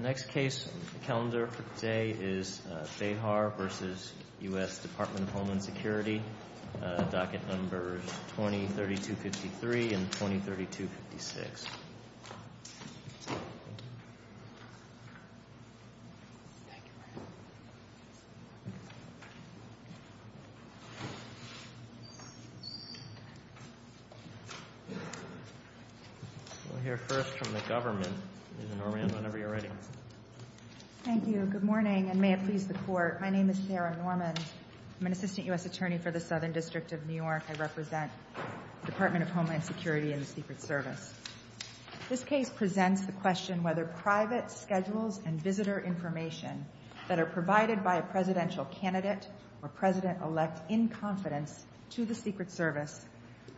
The next case on the calendar for today is Behar v. U.S. Dept. of Homeland Security, docket numbers 20-3253 and 20-3256. We'll hear first from the government, Ms. Norman, whenever you're ready. Thank you. Good morning, and may it please the Court. My name is Sarah Norman. I'm an assistant U.S. attorney for the Southern District of New York. I represent the Department of Homeland Security and the Secret Service. This case presents the question whether private schedules and visitor information that are provided by a presidential candidate or President-elect in confidence to the Secret Service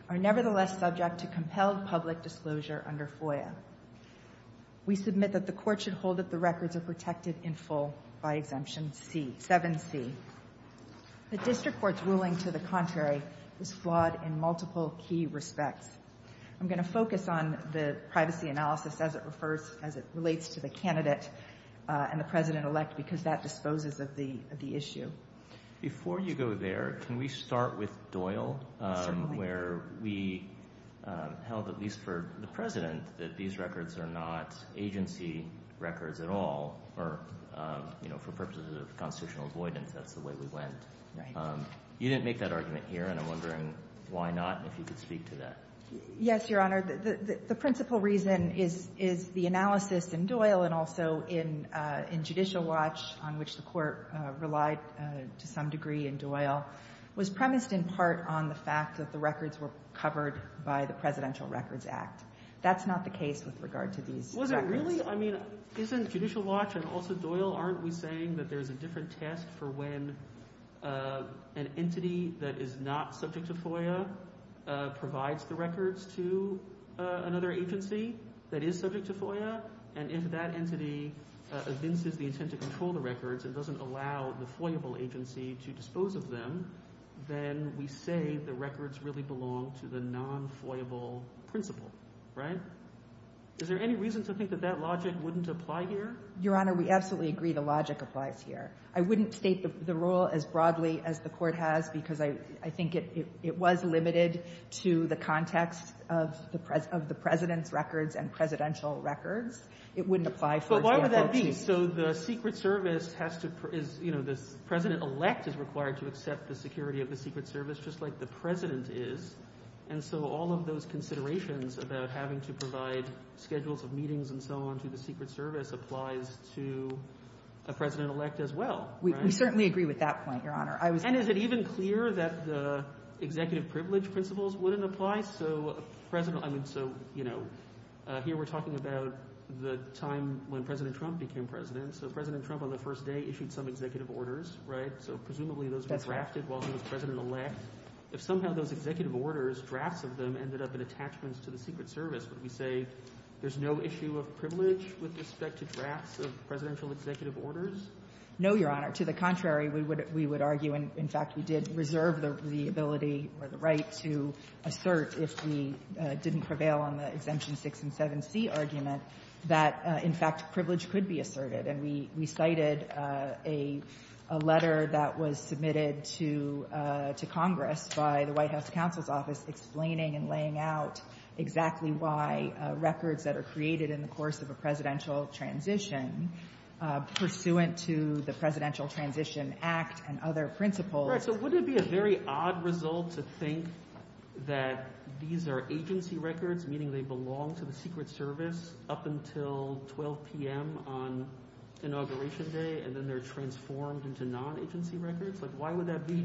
are nevertheless subject to compelled public disclosure under FOIA. We submit that the Court should hold that the records are protected in full by Exemption 7C. The District Court's ruling to the contrary is flawed in multiple key respects. I'm going to focus on the privacy analysis as it relates to the candidate and the President-elect because that disposes of the issue. Before you go there, can we start with Doyle, where we held, at least for the President, that these records are not agency records at all, or, you know, for purposes of constitutional avoidance, that's the way we went. Right. You didn't make that argument here, and I'm wondering why not and if you could speak to that. Yes, Your Honor. The principal reason is the analysis in Doyle and also in Judicial Watch, on which the Court relied to some degree in Doyle, was premised in part on the fact that the records were covered by the Presidential Records Act. That's not the case with regard to these records. Was it really? I mean, isn't Judicial Watch and also Doyle, aren't we saying that there's a different test for when an entity that is not subject to FOIA provides the records to another agency that is subject to FOIA, and if that entity evinces the intent to control the records and doesn't allow the FOIAble agency to dispose of them, then we say the records really belong to the non-FOIAble principal, right? Is there any reason to think that that logic wouldn't apply here? Your Honor, we absolutely agree the logic applies here. I wouldn't state the role as broadly as the Court has because I think it was limited to the context of the President's records and Presidential records. It wouldn't apply for the enforcement. But why would that be? So the Secret Service has to, you know, the President-elect is required to accept the President is, and so all of those considerations about having to provide schedules of meetings and so on to the Secret Service applies to a President-elect as well, right? We certainly agree with that point, Your Honor. And is it even clear that the executive privilege principles wouldn't apply? So President, I mean, so, you know, here we're talking about the time when President Trump became President. So President Trump on the first day issued some executive orders, right? So presumably those were drafted while he was President-elect. If somehow those executive orders, drafts of them, ended up in attachments to the Secret Service, would we say there's no issue of privilege with respect to drafts of Presidential executive orders? No, Your Honor. To the contrary, we would argue. In fact, we did reserve the ability or the right to assert, if we didn't prevail on the Exemption 6 and 7c argument, that, in fact, privilege could be asserted. And we cited a letter that was submitted to Congress by the White House Counsel's Office explaining and laying out exactly why records that are created in the course of a Presidential transition, pursuant to the Presidential Transition Act and other principles... Right, so wouldn't it be a very odd result to think that these are agency records, meaning they belong to the Secret Service up until 12 p.m. on Inauguration Day and then they're transformed into non-agency records? Why would that be?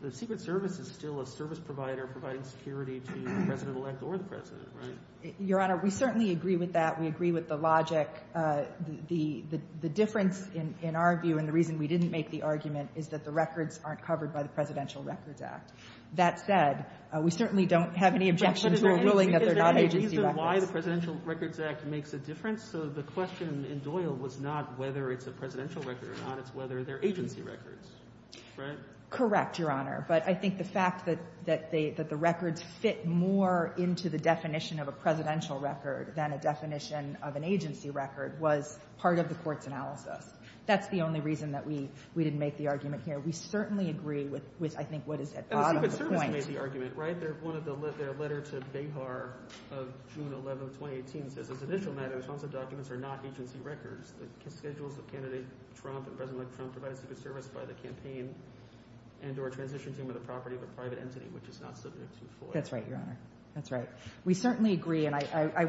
The Secret Service is still a service provider providing security to the President-elect or the President, right? Your Honor, we certainly agree with that. We agree with the logic. The difference, in our view, and the reason we didn't make the argument, is that the records aren't covered by the Presidential Records Act. That said, we certainly don't have any objection to a ruling that they're not agency records. But is there any reason why the Presidential Records Act makes a difference? So the question in Doyle was not whether it's a presidential record or not. It's whether they're agency records, right? Correct, Your Honor. But I think the fact that the records fit more into the definition of a presidential record than a definition of an agency record was part of the Court's analysis. That's the only reason that we didn't make the argument here. We certainly agree with, I think, what is at the bottom of the point. The Secret Service made the argument, right? Their letter to Behar of June 11, 2018 says, as an initial matter, responsive documents are not agency records. The schedules of candidate Trump and President-elect Trump provide a secret service by the campaign and or transition team of the property of a private entity, which is not subject to FOIA. That's right, Your Honor. That's right. We certainly agree, and I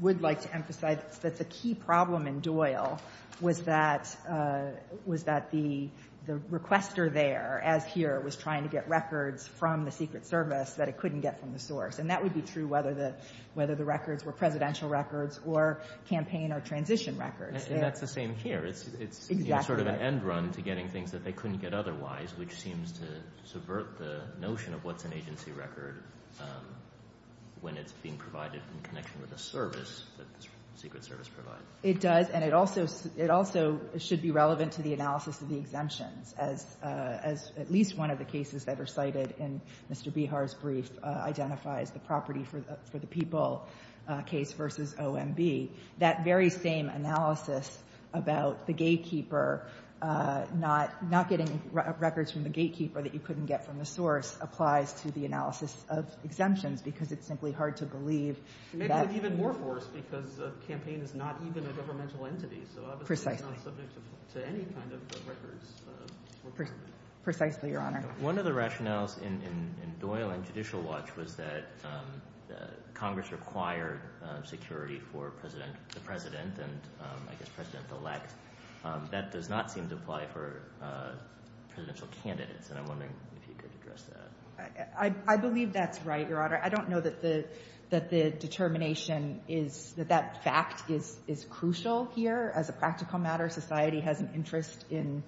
would like to emphasize that the key problem in Doyle was that the requester there, as here, was trying to get records from the Secret Service that it couldn't get from the source. And that would be true whether the records were presidential records or campaign or transition records. And that's the same here. Exactly right. It's sort of an end run to getting things that they couldn't get otherwise, which seems to subvert the notion of what's an agency record when it's being provided in connection with a service that the Secret Service provides. It does, and it also should be relevant to the analysis of the exemptions as at least one of the cases that are cited in Mr. Behar's brief identifies the property for the people case versus OMB. That very same analysis about the gatekeeper not getting records from the gatekeeper that you couldn't get from the source applies to the analysis of exemptions because it's simply hard to believe that... Precisely. Precisely, Your Honor. One of the rationales in Doyle and Judicial Watch was that Congress required security for the president and, I guess, president-elect. That does not seem to apply for presidential candidates, and I'm wondering if you could address that. I believe that's right, Your Honor. I don't know that the determination is... that that fact is crucial here as a practical matter. Society has an interest in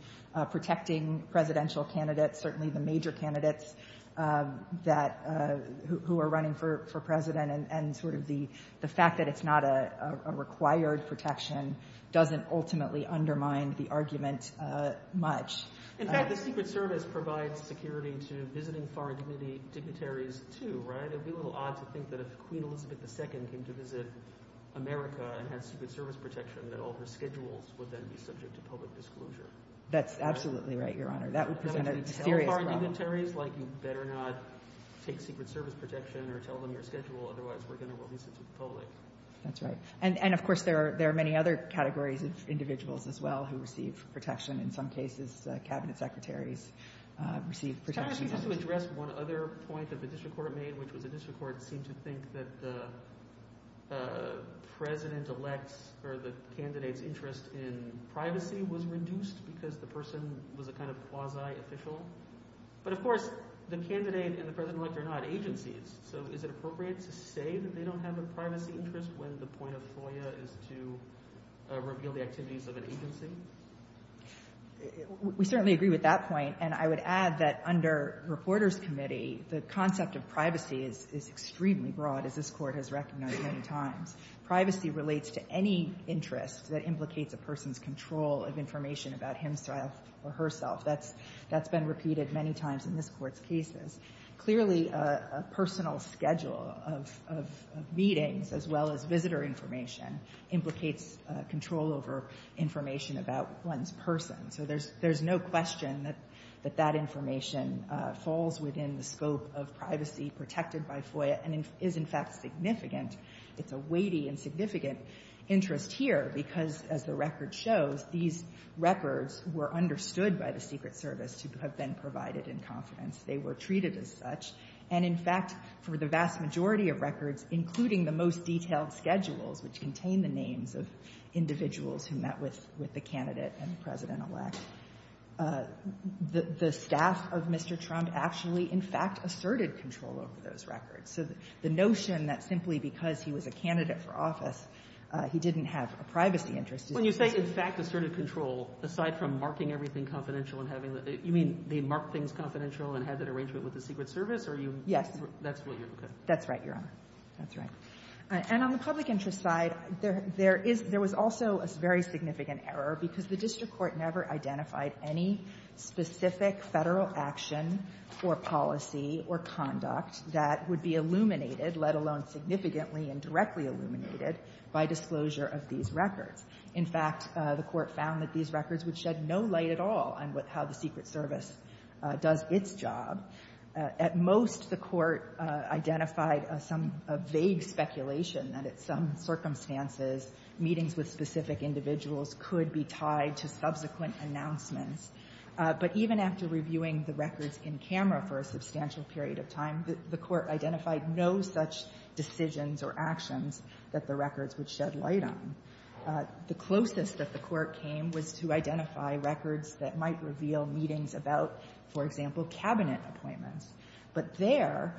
protecting presidential candidates, certainly the major candidates who are running for president, and the fact that it's not a required protection doesn't ultimately undermine the argument much. In fact, the Secret Service provides security to visiting foreign dignitaries too, right? It would be a little odd to think that if Queen Elizabeth II came to visit America and had Secret Service protection, that all her schedules would then be subject to public disclosure. That's absolutely right, Your Honor. That would present a serious problem. You better not take Secret Service protection or tell them your schedule, otherwise we're going to release it to the public. That's right. And, of course, there are many other categories of individuals as well who receive protection. In some cases, cabinet secretaries receive protection. Can I ask you just to address one other point that the district court made, which was the district court seemed to think that the president-elect's or the candidate's interest in privacy was reduced because the person was a kind of quasi-official? But, of course, the candidate and the president-elect are not agencies, so is it appropriate to say that they don't have a privacy interest when the point of FOIA is to reveal the activities of an agency? We certainly agree with that point, and I would add that under Reporters Committee, the concept of privacy is extremely broad, as this Court has recognized many times. Privacy relates to any interest that implicates a person's control of information about himself or herself. That's been repeated many times in this Court's cases. Clearly, a personal schedule of meetings as well as visitor information implicates control over information about one's person. So there's no question that that information falls within the scope of privacy protected by FOIA and is, in fact, significant. It's a weighty and significant interest here because, as the record shows, these records were understood by the Secret Service to have been provided in confidence. They were treated as such. And, in fact, for the vast majority of records, including the most detailed schedules, which contain the names of individuals who met with the candidate and the President-elect, the staff of Mr. Trump actually, in fact, asserted control over those records. So the notion that simply because he was a candidate for office, he didn't have a privacy interest is not true. When you say, in fact, asserted control, aside from marking everything confidential and having the – you mean they marked things confidential and had that arrangement with the Secret Service, or you – Yes. That's what you're – okay. That's right, Your Honor. That's right. And on the public interest side, there is – there was also a very significant error because the district court never identified any specific Federal action or policy or conduct that would be illuminated, let alone significantly and directly illuminated, by disclosure of these records. In fact, the court found that these records would shed no light at all on how the Secret Service does its job. At most, the court identified some vague speculation that at some circumstances, meetings with specific individuals could be tied to subsequent announcements. But even after reviewing the records in camera for a substantial period of time, the court identified no such decisions or actions that the records would shed light on. The closest that the court came was to identify records that might reveal meetings about, for example, Cabinet appointments. But there,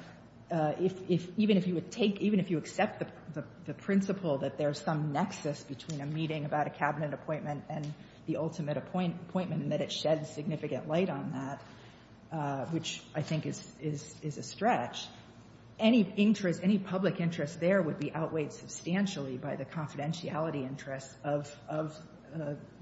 if – even if you would take – even if you accept the principle that there's some nexus between a meeting about a Cabinet appointment and the ultimate appointment, and that it sheds significant light on that, which I think is a stretch, any interest – any public interest there would be outweighed substantially by the confidentiality interest of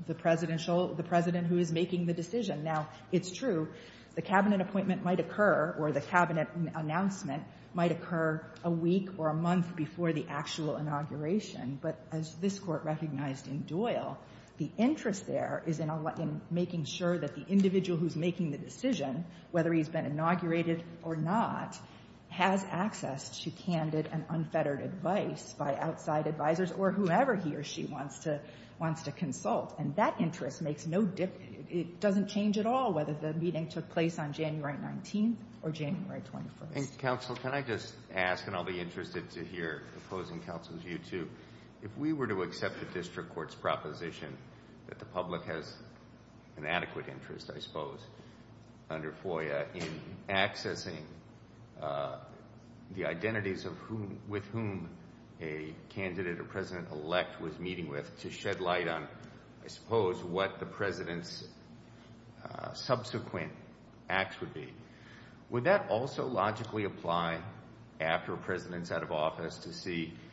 the presidential – the President who is making the decision. Now, it's true, the Cabinet appointment might occur, or the Cabinet announcement might occur a week or a month before the actual inauguration. But as this Court recognized in Doyle, the interest there is in making sure that the individual who's making the decision, whether he's been inaugurated or not, has access to candid and unfettered advice by outside advisors or whoever he or she wants to consult. And that interest makes no – it doesn't change at all whether the meeting took place on January 19th or January 21st. And, Counsel, can I just ask, and I'll be interested to hear opposing counsel's view too, if we were to accept a district court's proposition that the public has an adequate interest, I suppose, under FOIA in accessing the identities of whom – with whom a candidate or President-elect was meeting with to shed light on, I suppose, what the President's subsequent acts would be. Would that also logically apply after a President's out of office to see –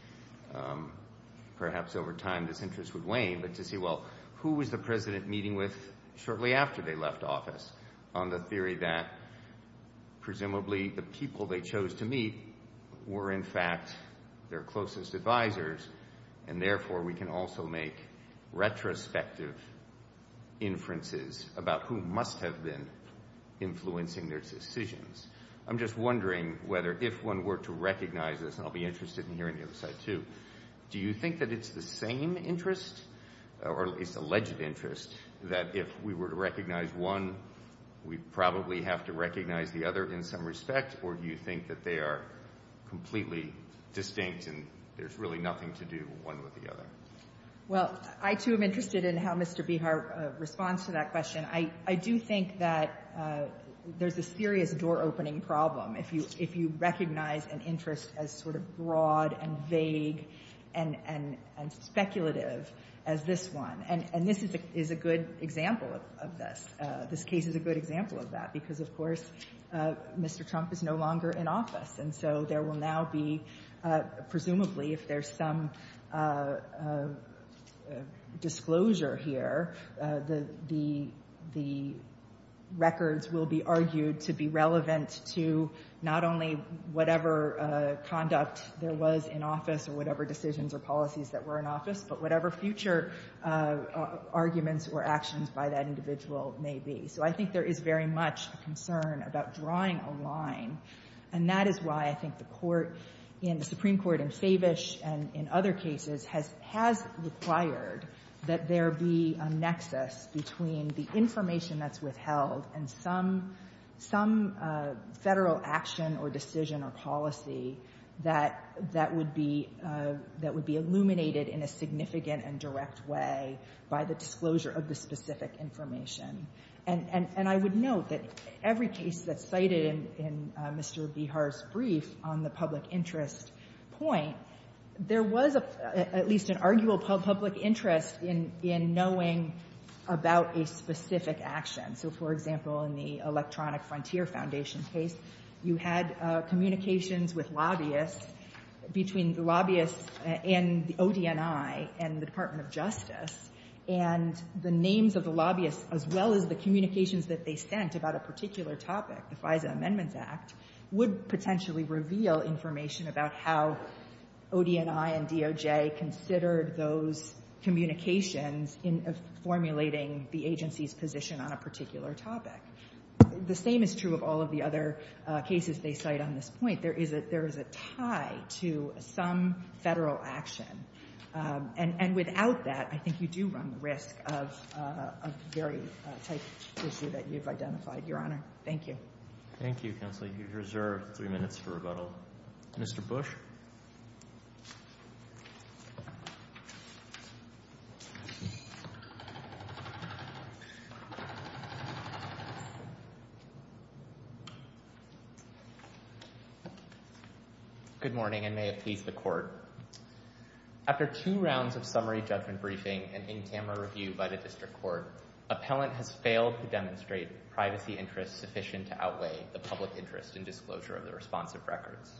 perhaps over time this interest would wane, but to see, well, who was the President meeting with shortly after they left office on the theory that, or, in fact, their closest advisors, and therefore we can also make retrospective inferences about who must have been influencing their decisions. I'm just wondering whether if one were to recognize this, and I'll be interested in hearing the other side too, do you think that it's the same interest, or it's alleged interest, that if we were to recognize one, we'd probably have to recognize the other in some respect, or do you think that they are completely distinct and there's really nothing to do one with the other? Well, I too am interested in how Mr. Behar responds to that question. I do think that there's a serious door-opening problem if you recognize an interest as sort of broad and vague and speculative as this one. And this is a good example of this. This case is a good example of that, because, of course, Mr. Trump is no longer in office, and so there will now be, presumably, if there's some disclosure here, the records will be argued to be relevant to not only whatever conduct there was in office or whatever decisions or policies that were in office, but whatever future arguments or actions by that individual may be. So I think there is very much a concern about drawing a line, and that is why I think the Supreme Court in Savish and in other cases has required that there be a nexus between the information that's withheld and some federal action or decision or policy that would be illuminated in a significant and direct way by the disclosure of the specific information. And I would note that every case that's cited in Mr. Bihar's brief on the public interest point, there was at least an arguable public interest in knowing about a specific action. So, for example, in the Electronic Frontier Foundation case, you had communications with lobbyists, between the lobbyists and the ODNI and the Department of Justice, and the names of the lobbyists, as well as the communications that they sent about a particular topic, the FISA Amendments Act, would potentially reveal information about how ODNI and DOJ considered those communications in formulating the agency's position on a particular topic. The same is true of all of the other cases they cite on this point. There is a tie to some federal action. And without that, I think you do run the risk of a very tight issue that you've identified. Your Honor, thank you. Thank you, Counselor. You've reserved three minutes for rebuttal. Mr. Bush? Good morning, and may it please the Court. After two rounds of summary judgment briefing and in-camera review by the District Court, appellant has failed to demonstrate privacy interests sufficient to outweigh the public interest in disclosure of the responsive records.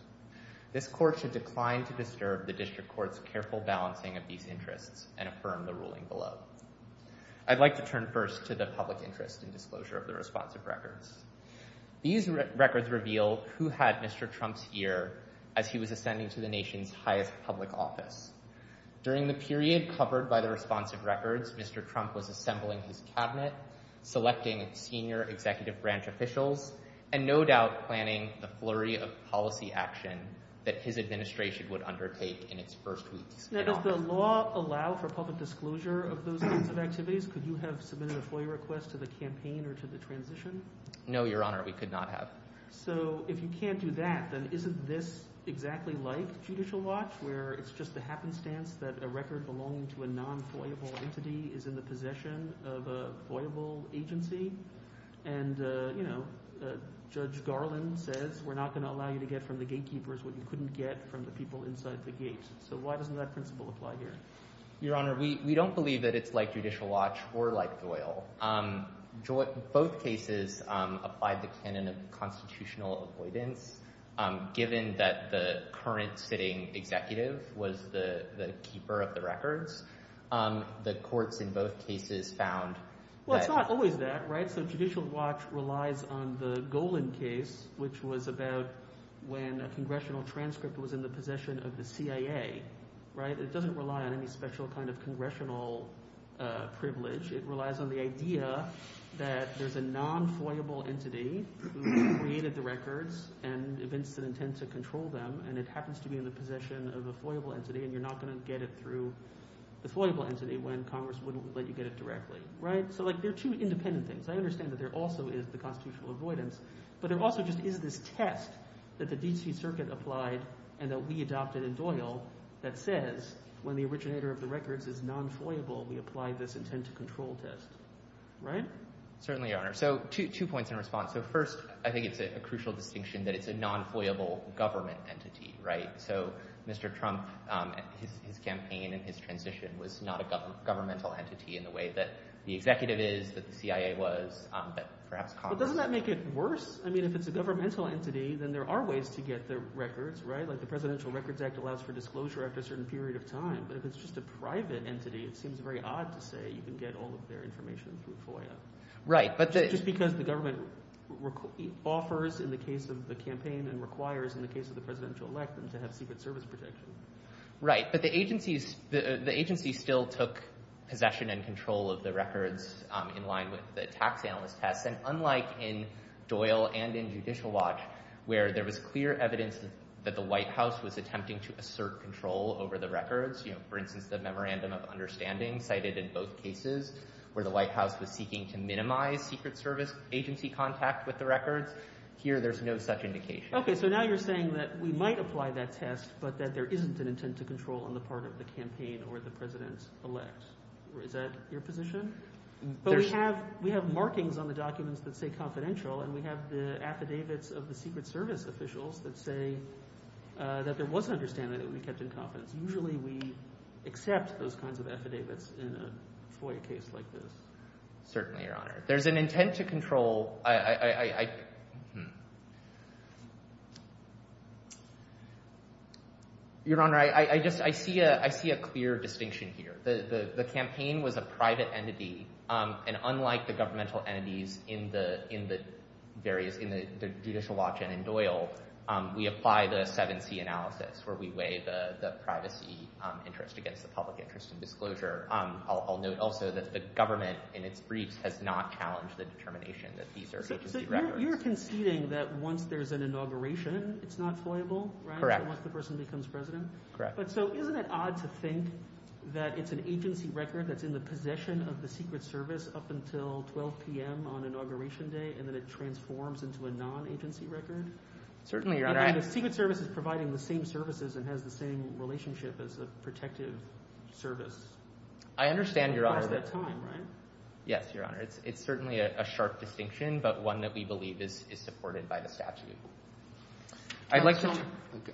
This Court should decline to disturb the District Court's careful balancing of these interests and affirm the ruling below. I'd like to turn first to the public interest in disclosure of the responsive records. These records reveal who had Mr. Trump's ear as he was ascending to the nation's highest public office. During the period covered by the responsive records, Mr. Trump was assembling his cabinet, selecting senior executive branch officials, and no doubt planning the flurry of policy action that his administration would undertake in its first week. Now, does the law allow for public disclosure of those kinds of activities? Could you have submitted a FOIA request to the campaign or to the transition? No, Your Honor, we could not have. So if you can't do that, then isn't this exactly like Judicial Watch, where it's just the happenstance that a record belonging to a non-FOIA-able entity is in the possession of a FOIA-able agency? And, you know, Judge Garland says we're not going to allow you to get from the gatekeepers what you couldn't get from the people inside the gate. So why doesn't that principle apply here? Your Honor, we don't believe that it's like Judicial Watch or like Goyle. Both cases applied the canon of constitutional avoidance. Given that the current sitting executive was the keeper of the records, the courts in both cases found that... Well, it's not always that, right? So Judicial Watch relies on the Golan case, which was about when a congressional transcript was in the possession of the CIA, right? It doesn't rely on any special kind of congressional privilege. It relies on the idea that there's a non-FOIA-able entity who created the records and events that intend to control them, and it happens to be in the possession of a FOIA-able entity, and you're not going to get it through the FOIA-able entity when Congress wouldn't let you get it directly, right? So, like, they're two independent things. I understand that there also is the constitutional avoidance, but there also just is this test that the D.C. Circuit applied and that we adopted in Doyle that says when the originator of the records is non-FOIA-able, we apply this intent-to-control test, right? Certainly, Your Honor. So two points in response. So first, I think it's a crucial distinction that it's a non-FOIA-able government entity, right? So Mr. Trump, his campaign and his transition was not a governmental entity in the way that the executive is, that the CIA was, but perhaps Congress... But doesn't that make it worse? I mean, if it's a governmental entity, then there are ways to get the records, right? Like, the Presidential Records Act allows for disclosure after a certain period of time, but if it's just a private entity, it seems very odd to say you can get all of their information through FOIA. Right, but the... Just because the government offers, in the case of the campaign, and requires, in the case of the presidential elect, them to have Secret Service protection. Right, but the agency still took possession and control of the records in line with the tax analyst test, and unlike in Doyle and in Judicial Watch, where there was clear evidence that the White House was attempting to assert control over the records, you know, for instance, the Memorandum of Understanding, cited in both cases, where the White House was seeking to minimize Secret Service agency contact with the records. Here, there's no such indication. Okay, so now you're saying that we might apply that test, but that there isn't an intent to control on the part of the campaign or the president-elect. Is that your position? But we have markings on the documents that say confidential, and we have the affidavits of the Secret Service officials that say that there was an understanding that we kept in confidence. Usually, we accept those kinds of affidavits in a FOIA case like this. Certainly, Your Honor. There's an intent to control... Your Honor, I see a clear distinction here. The campaign was a private entity, and unlike the governmental entities in the judicial watch in Doyle, we apply the 7C analysis, where we weigh the privacy interest against the public interest and disclosure. I'll note also that the government, in its briefs, has not challenged the determination that these are agency records. So you're conceding that once there's an inauguration, it's not FOIA-able, right? Correct. Once the person becomes president? Correct. So isn't it odd to think that it's an agency record that's in the possession of the Secret Service up until 12 p.m. on inauguration day, and then it transforms into a non-agency record? Certainly, Your Honor. The Secret Service is providing the same services and has the same relationship as a protective service. I understand, Your Honor. Across that time, right? Yes, Your Honor. It's certainly a sharp distinction, but one that we believe is supported by the statute. I'd like to...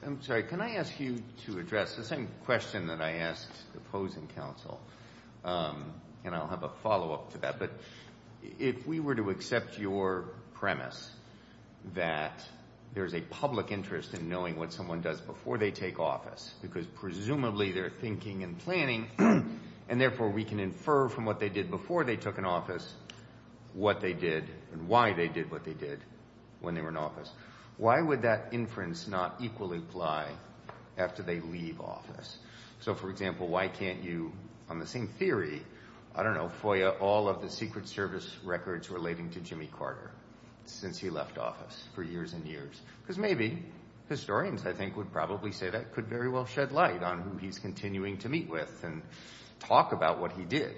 I'm sorry. Can I ask you to address the same question that I asked the opposing counsel? And I'll have a follow-up to that. But if we were to accept your premise that there's a public interest in knowing what someone does before they take office, because presumably they're thinking and planning, and therefore we can infer from what they did before they took an office what they did and why they did what they did when they were in office, why would that inference not equally apply after they leave office? So, for example, why can't you, on the same theory, I don't know, FOIA all of the Secret Service records relating to Jimmy Carter since he left office for years and years? Because maybe historians, I think, would probably say that could very well shed light on who he's continuing to meet with and talk about what he did.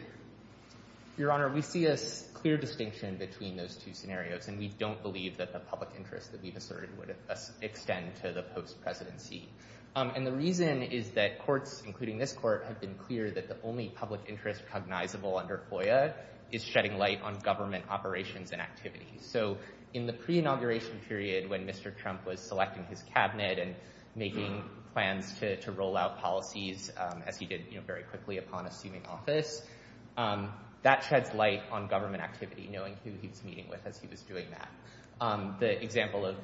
Your Honor, we see a clear distinction between those two scenarios, and we don't believe that the public interest that we've asserted would extend to the post-presidency. And the reason is that courts, including this court, have been clear that the only public interest cognizable under FOIA is shedding light on government operations and activities. So, in the pre-inauguration period when Mr. Trump was selecting his cabinet and making plans to roll out policies, as he did very quickly upon assuming office, that sheds light on government activity, knowing who he was meeting with as he was doing that. The example of,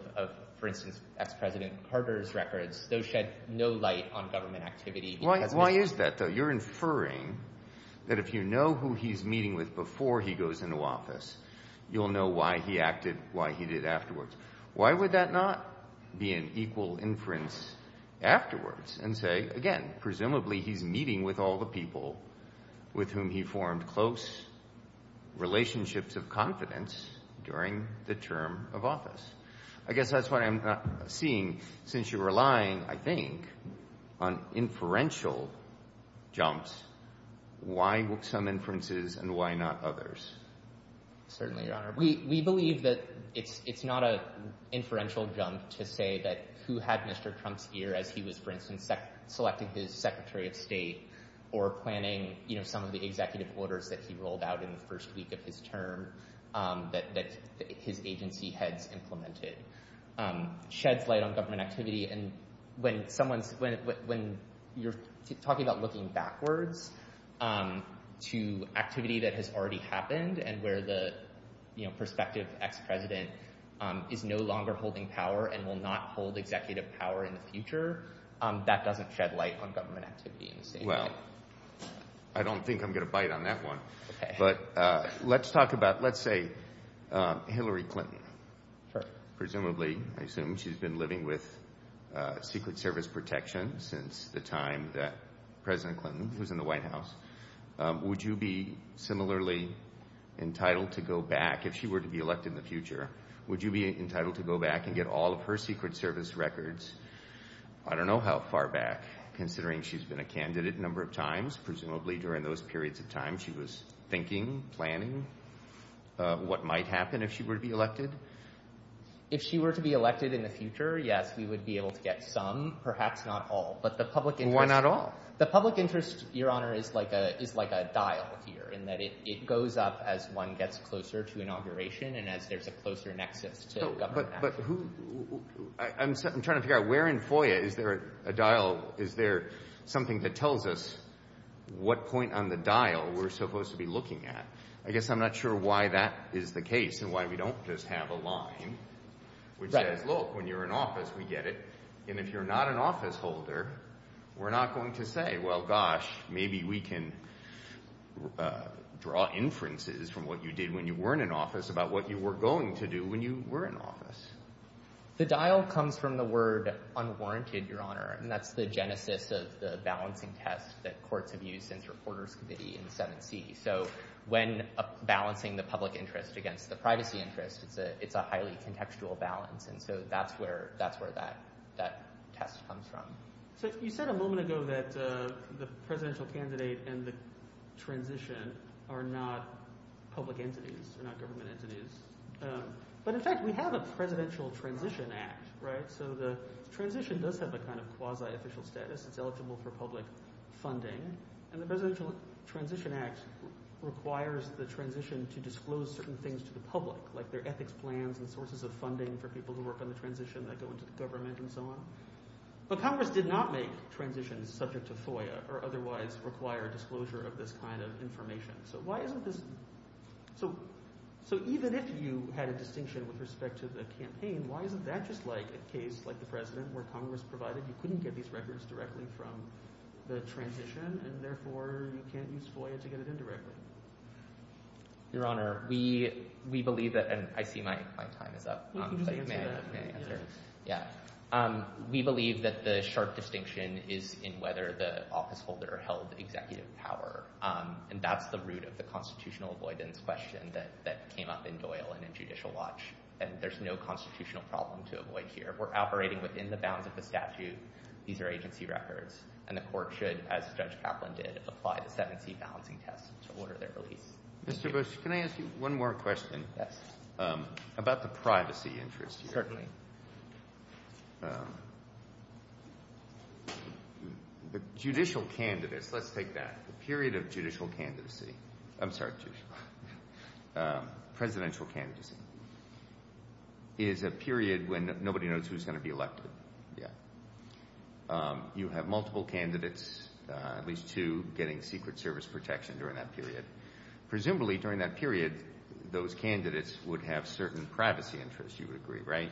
for instance, ex-President Carter's records, those shed no light on government activity. Why is that, though? You're inferring that if you know who he's meeting with before he goes into office, you'll know why he acted why he did afterwards. Why would that not be an equal inference afterwards and say, again, presumably he's meeting with all the people with whom he formed close relationships of confidence during the term of office? I guess that's what I'm seeing. Since you're relying, I think, on inferential jumps, why some inferences and why not others? Certainly, Your Honor. We believe that it's not an inferential jump to say that who had Mr. Trump's ear as he was, for instance, selecting his Secretary of State or planning some of the executive orders that he rolled out in the first week of his term that his agency heads implemented sheds light on government activity. When you're talking about looking backwards to activity that has already happened and where the prospective ex-President is no longer holding power and will not hold executive power in the future, that doesn't shed light on government activity in the same way. Well, I don't think I'm going to bite on that one. But let's talk about, let's say, Hillary Clinton. Presumably, I assume, she's been living with Secret Service protection since the time that President Clinton was in the White House. Would you be similarly entitled to go back, if she were to be elected in the future, would you be entitled to go back and get all of her Secret Service records? I don't know how far back, considering she's been a candidate a number of times. Presumably, during those periods of time, she was thinking, planning, what might happen if she were to be elected. If she were to be elected in the future, yes, we would be able to get some, perhaps not all. But the public interest... Why not all? The public interest, Your Honor, is like a dial here in that it goes up as one gets closer to inauguration and as there's a closer nexus to government action. But who, I'm trying to figure out, where in FOIA is there a dial, is there something that tells us what point on the dial we're supposed to be looking at? I guess I'm not sure why that is the case and why we don't just have a line which says, look, when you're in office, we get it. And if you're not an office holder, we're not going to say, well, gosh, maybe we can draw inferences from what you did when you weren't in office about what you were going to do when you were in office. The dial comes from the word unwarranted, Your Honor, and that's the genesis of the balancing test that courts have used since Reporters Committee in 7C. So when balancing the public interest against the privacy interest, it's a highly contextual balance, and so that's where that test comes from. So you said a moment ago that the presidential candidate and the transition are not public entities, they're not government entities. But in fact, we have a presidential transition act, right? So the transition does have a kind of quasi-official status. It's eligible for public funding. And the presidential transition act requires the transition to disclose certain things to the public, like their ethics plans and sources of funding for people who work on the transition that go into the government and so on. But Congress did not make transitions subject to FOIA or otherwise require disclosure of this kind of information. So why isn't this... So even if you had a distinction with respect to the campaign, why isn't that just like a case like the president where Congress provided you couldn't get these records directly from the transition, and therefore you can't use FOIA to get it in directly? Your Honor, we believe that... And I see my time is up. We can just answer that. Yeah. We believe that the sharp distinction is in whether the officeholder held executive power. And that's the root of the constitutional avoidance question that came up in Doyle and in Judicial Watch. And there's no constitutional problem to avoid here. We're operating within the bounds of the statute. These are agency records. And the court should, as Judge Kaplan did, apply the 7C balancing test to order their release. Mr. Bush, can I ask you one more question? Yes. About the privacy interest here. Certainly. The judicial candidates, let's take that. The period of judicial candidacy... I'm sorry, judicial. Presidential candidacy is a period when nobody knows who's going to be elected. Yeah. You have multiple candidates, at least two getting Secret Service protection during that period. Presumably, during that period, those candidates would have certain privacy interests, you would agree, right?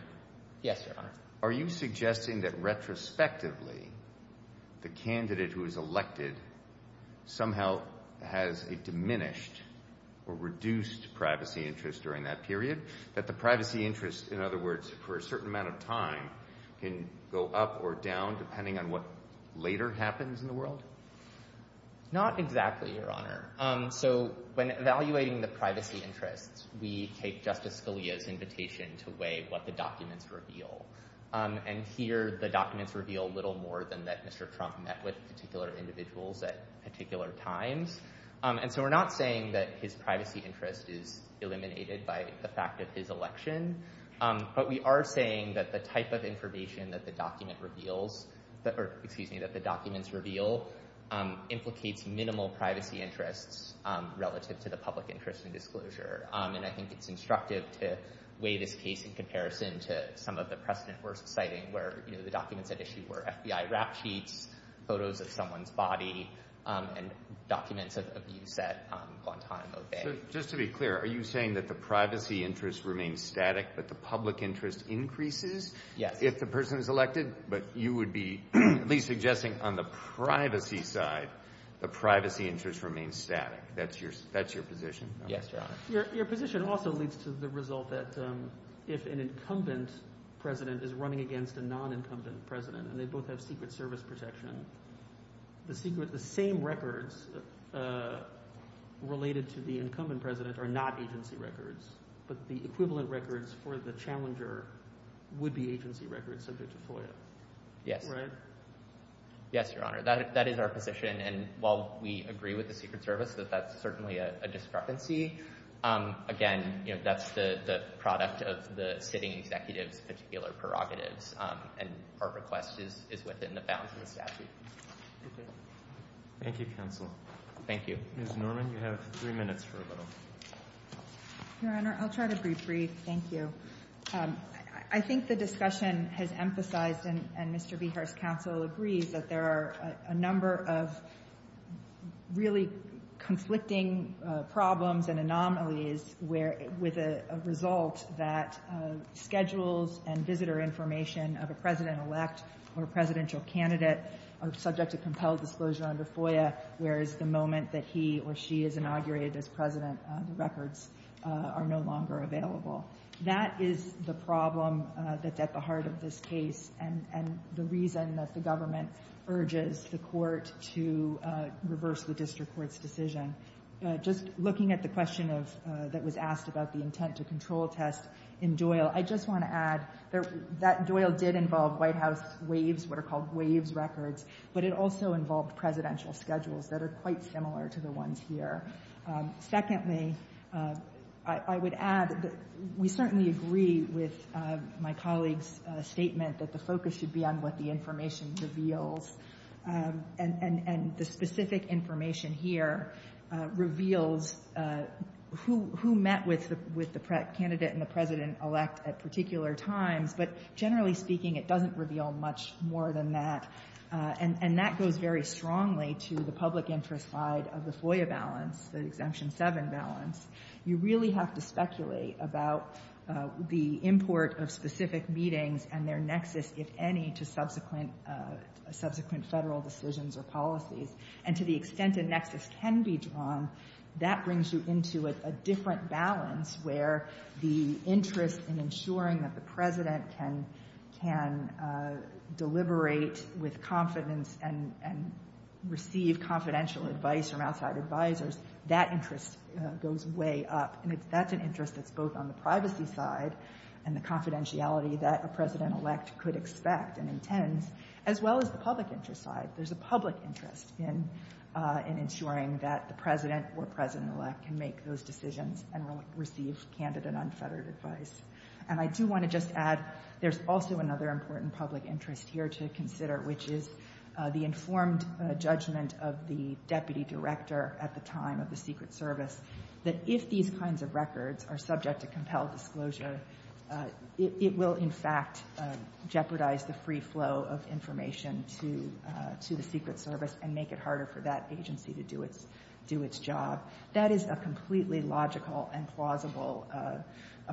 Yes, Your Honor. Are you suggesting that, retrospectively, the candidate who is elected somehow has a diminished or reduced privacy interest during that period? That the privacy interest, in other words, for a certain amount of time, can go up or down, depending on what later happens in the world? Not exactly, Your Honor. So, when evaluating the privacy interests, we take Justice Scalia's invitation to weigh what the documents reveal. And here, the documents reveal little more than that Mr. Trump met with particular individuals at particular times. And so, we're not saying that his privacy interest is eliminated by the fact of his election, but we are saying that the type of information that the document reveals, excuse me, that the documents reveal, implicates minimal privacy interests relative to the public interest in disclosure. And I think it's instructive to weigh this case in comparison to some of the precedent-worst citing, where the documents at issue were FBI rap sheets, photos of someone's body, and documents of abuse at Guantanamo Bay. So, just to be clear, are you saying that the privacy interest remains static, but the public interest increases? Yes. If the person is elected, but you would be at least suggesting on the privacy side, the privacy interest remains static. That's your position? Yes, Your Honor. Your position also leads to the result that if an incumbent president is running against a non-incumbent president, and they both have Secret Service protection, the same records related to the incumbent president are not agency records, but the equivalent records for the challenger would be agency records subject to FOIA. Yes. Right? Yes, Your Honor. That is our position, and while we agree with the Secret Service that that's certainly a discrepancy, again, that's the product of the sitting executive's particular prerogatives, and our request is within the bounds of the statute. Okay. Thank you, counsel. Thank you. Ms. Norman, you have three minutes for a vote. Your Honor, I'll try to be brief. Thank you. I think the discussion has emphasized, and Mr. Behar's counsel agrees, that there are a number of really conflicting problems and anomalies with a result that schedules and visitor information of a president-elect or a presidential candidate are subject to compelled disclosure under FOIA, whereas the moment that he or she is inaugurated as president, the records are no longer available. That is the problem that's at the heart of this case and the reason that the government urges the court to reverse the district court's decision. Just looking at the question that was asked about the intent-to-control test in Doyle, I just want to add that Doyle did involve White House WAVES, what are called WAVES records, but it also involved presidential schedules that are quite similar to the ones here. Secondly, I would add that we certainly agree with my colleague's statement that the focus should be on what the information reveals, and the specific information here reveals who met with the candidate and the president-elect at particular times, but generally speaking, it doesn't reveal much more than that, and that goes very strongly to the public interest side of the FOIA balance, the Exemption 7 balance. You really have to speculate about the import of specific meetings and their nexus, if any, to subsequent federal decisions or policies, and to the extent a nexus can be drawn, that brings you into a different balance where the interest in ensuring that the president can deliberate with confidence and receive confidential advice from outside advisors, that interest goes way up, and that's an interest that's both on the privacy side and the confidentiality that a president-elect could expect and intends, as well as the public interest side. There's a public interest in ensuring that the president or president-elect can make those decisions and receive candid and unfettered advice. And I do want to just add, there's also another important public interest here to consider, which is the informed judgment of the deputy director at the time of the Secret Service that if these kinds of records are subject to compelled disclosure, it will, in fact, jeopardize the free flow of information to the Secret Service and make it harder for that agency to do its job. That is a completely logical and plausible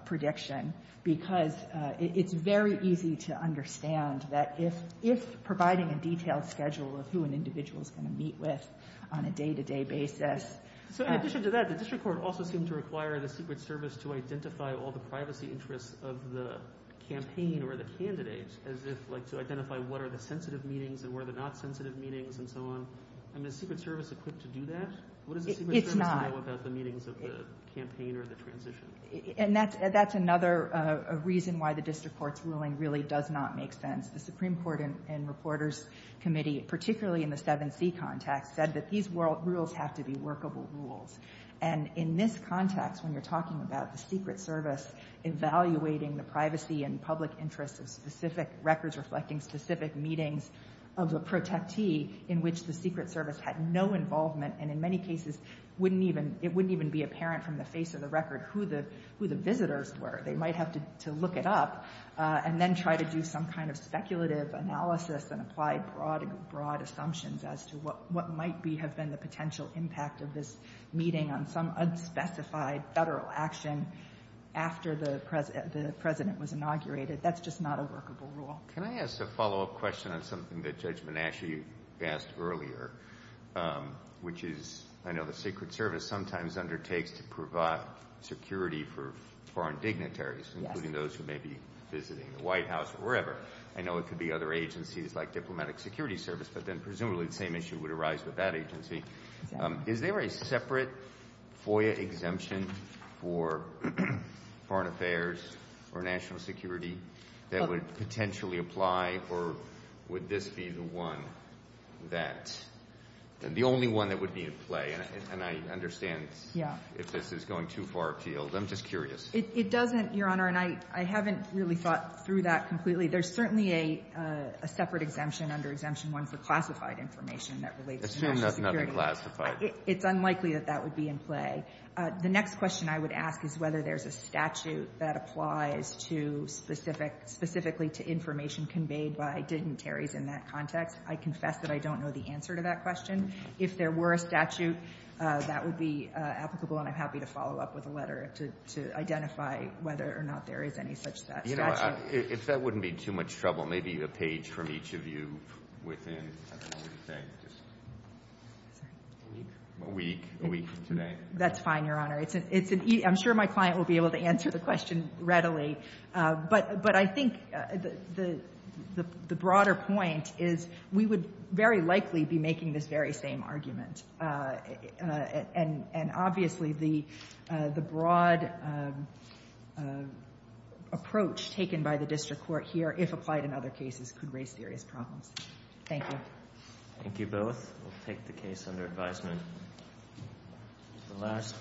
prediction because it's very easy to understand that if providing a detailed schedule of who an individual is going to meet with on a day-to-day basis... So in addition to that, the district court also seemed to require the Secret Service to identify all the privacy interests of the campaign or the candidates, as if, like, to identify what are the sensitive meetings and what are the not-sensitive meetings and so on. I mean, is the Secret Service equipped to do that? What does the Secret Service know about the meetings of the campaign or the transition? And that's another reason why the district court's ruling really does not make sense. The Supreme Court and Reporters Committee, particularly in the 7C context, said that these rules have to be workable rules. And in this context, when you're talking about the Secret Service evaluating the privacy and public interest of specific records reflecting specific meetings of the protété, in which the Secret Service had no involvement and in many cases wouldn't even... it wouldn't even be apparent from the face of the record who the visitors were. They might have to look it up and then try to do some kind of speculative analysis and apply broad assumptions as to what might have been the potential impact of this meeting on some unspecified federal action after the president was inaugurated. That's just not a workable rule. Can I ask a follow-up question on something that Judge Monashie asked earlier, which is, I know the Secret Service sometimes undertakes to provide security for foreign dignitaries, including those who may be visiting the White House or wherever. I know it could be other agencies like Diplomatic Security Service, but then presumably the same issue would arise with that agency. Is there a separate FOIA exemption for foreign affairs or national security that would potentially apply, or would this be the one that... the only one that would be in play? And I understand if this is going too far afield. I'm just curious. It doesn't, Your Honor, and I haven't really thought through that completely. There's certainly a separate exemption under Exemption 1 for classified information that relates to national security. Assuming that's not been classified. It's unlikely that that would be in play. The next question I would ask is whether there's a statute that applies to specific... specifically to information conveyed by dignitaries in that context. I confess that I don't know the answer to that question. If there were a statute, that would be applicable, and I'm happy to follow up with a letter to identify whether or not there is any such statute. You know, if that wouldn't be too much trouble, maybe a page from each of you within... I don't know what you're saying. Sorry. A week. A week. A week from today. That's fine, Your Honor. I'm sure my client will be able to answer the question readily, but I think the broader point is we would very likely be making this very same argument, and obviously the broad approach taken by the district court here, if applied in other cases, could raise serious problems. Thank you. Thank you both. We'll take the case under advisement. Thank you.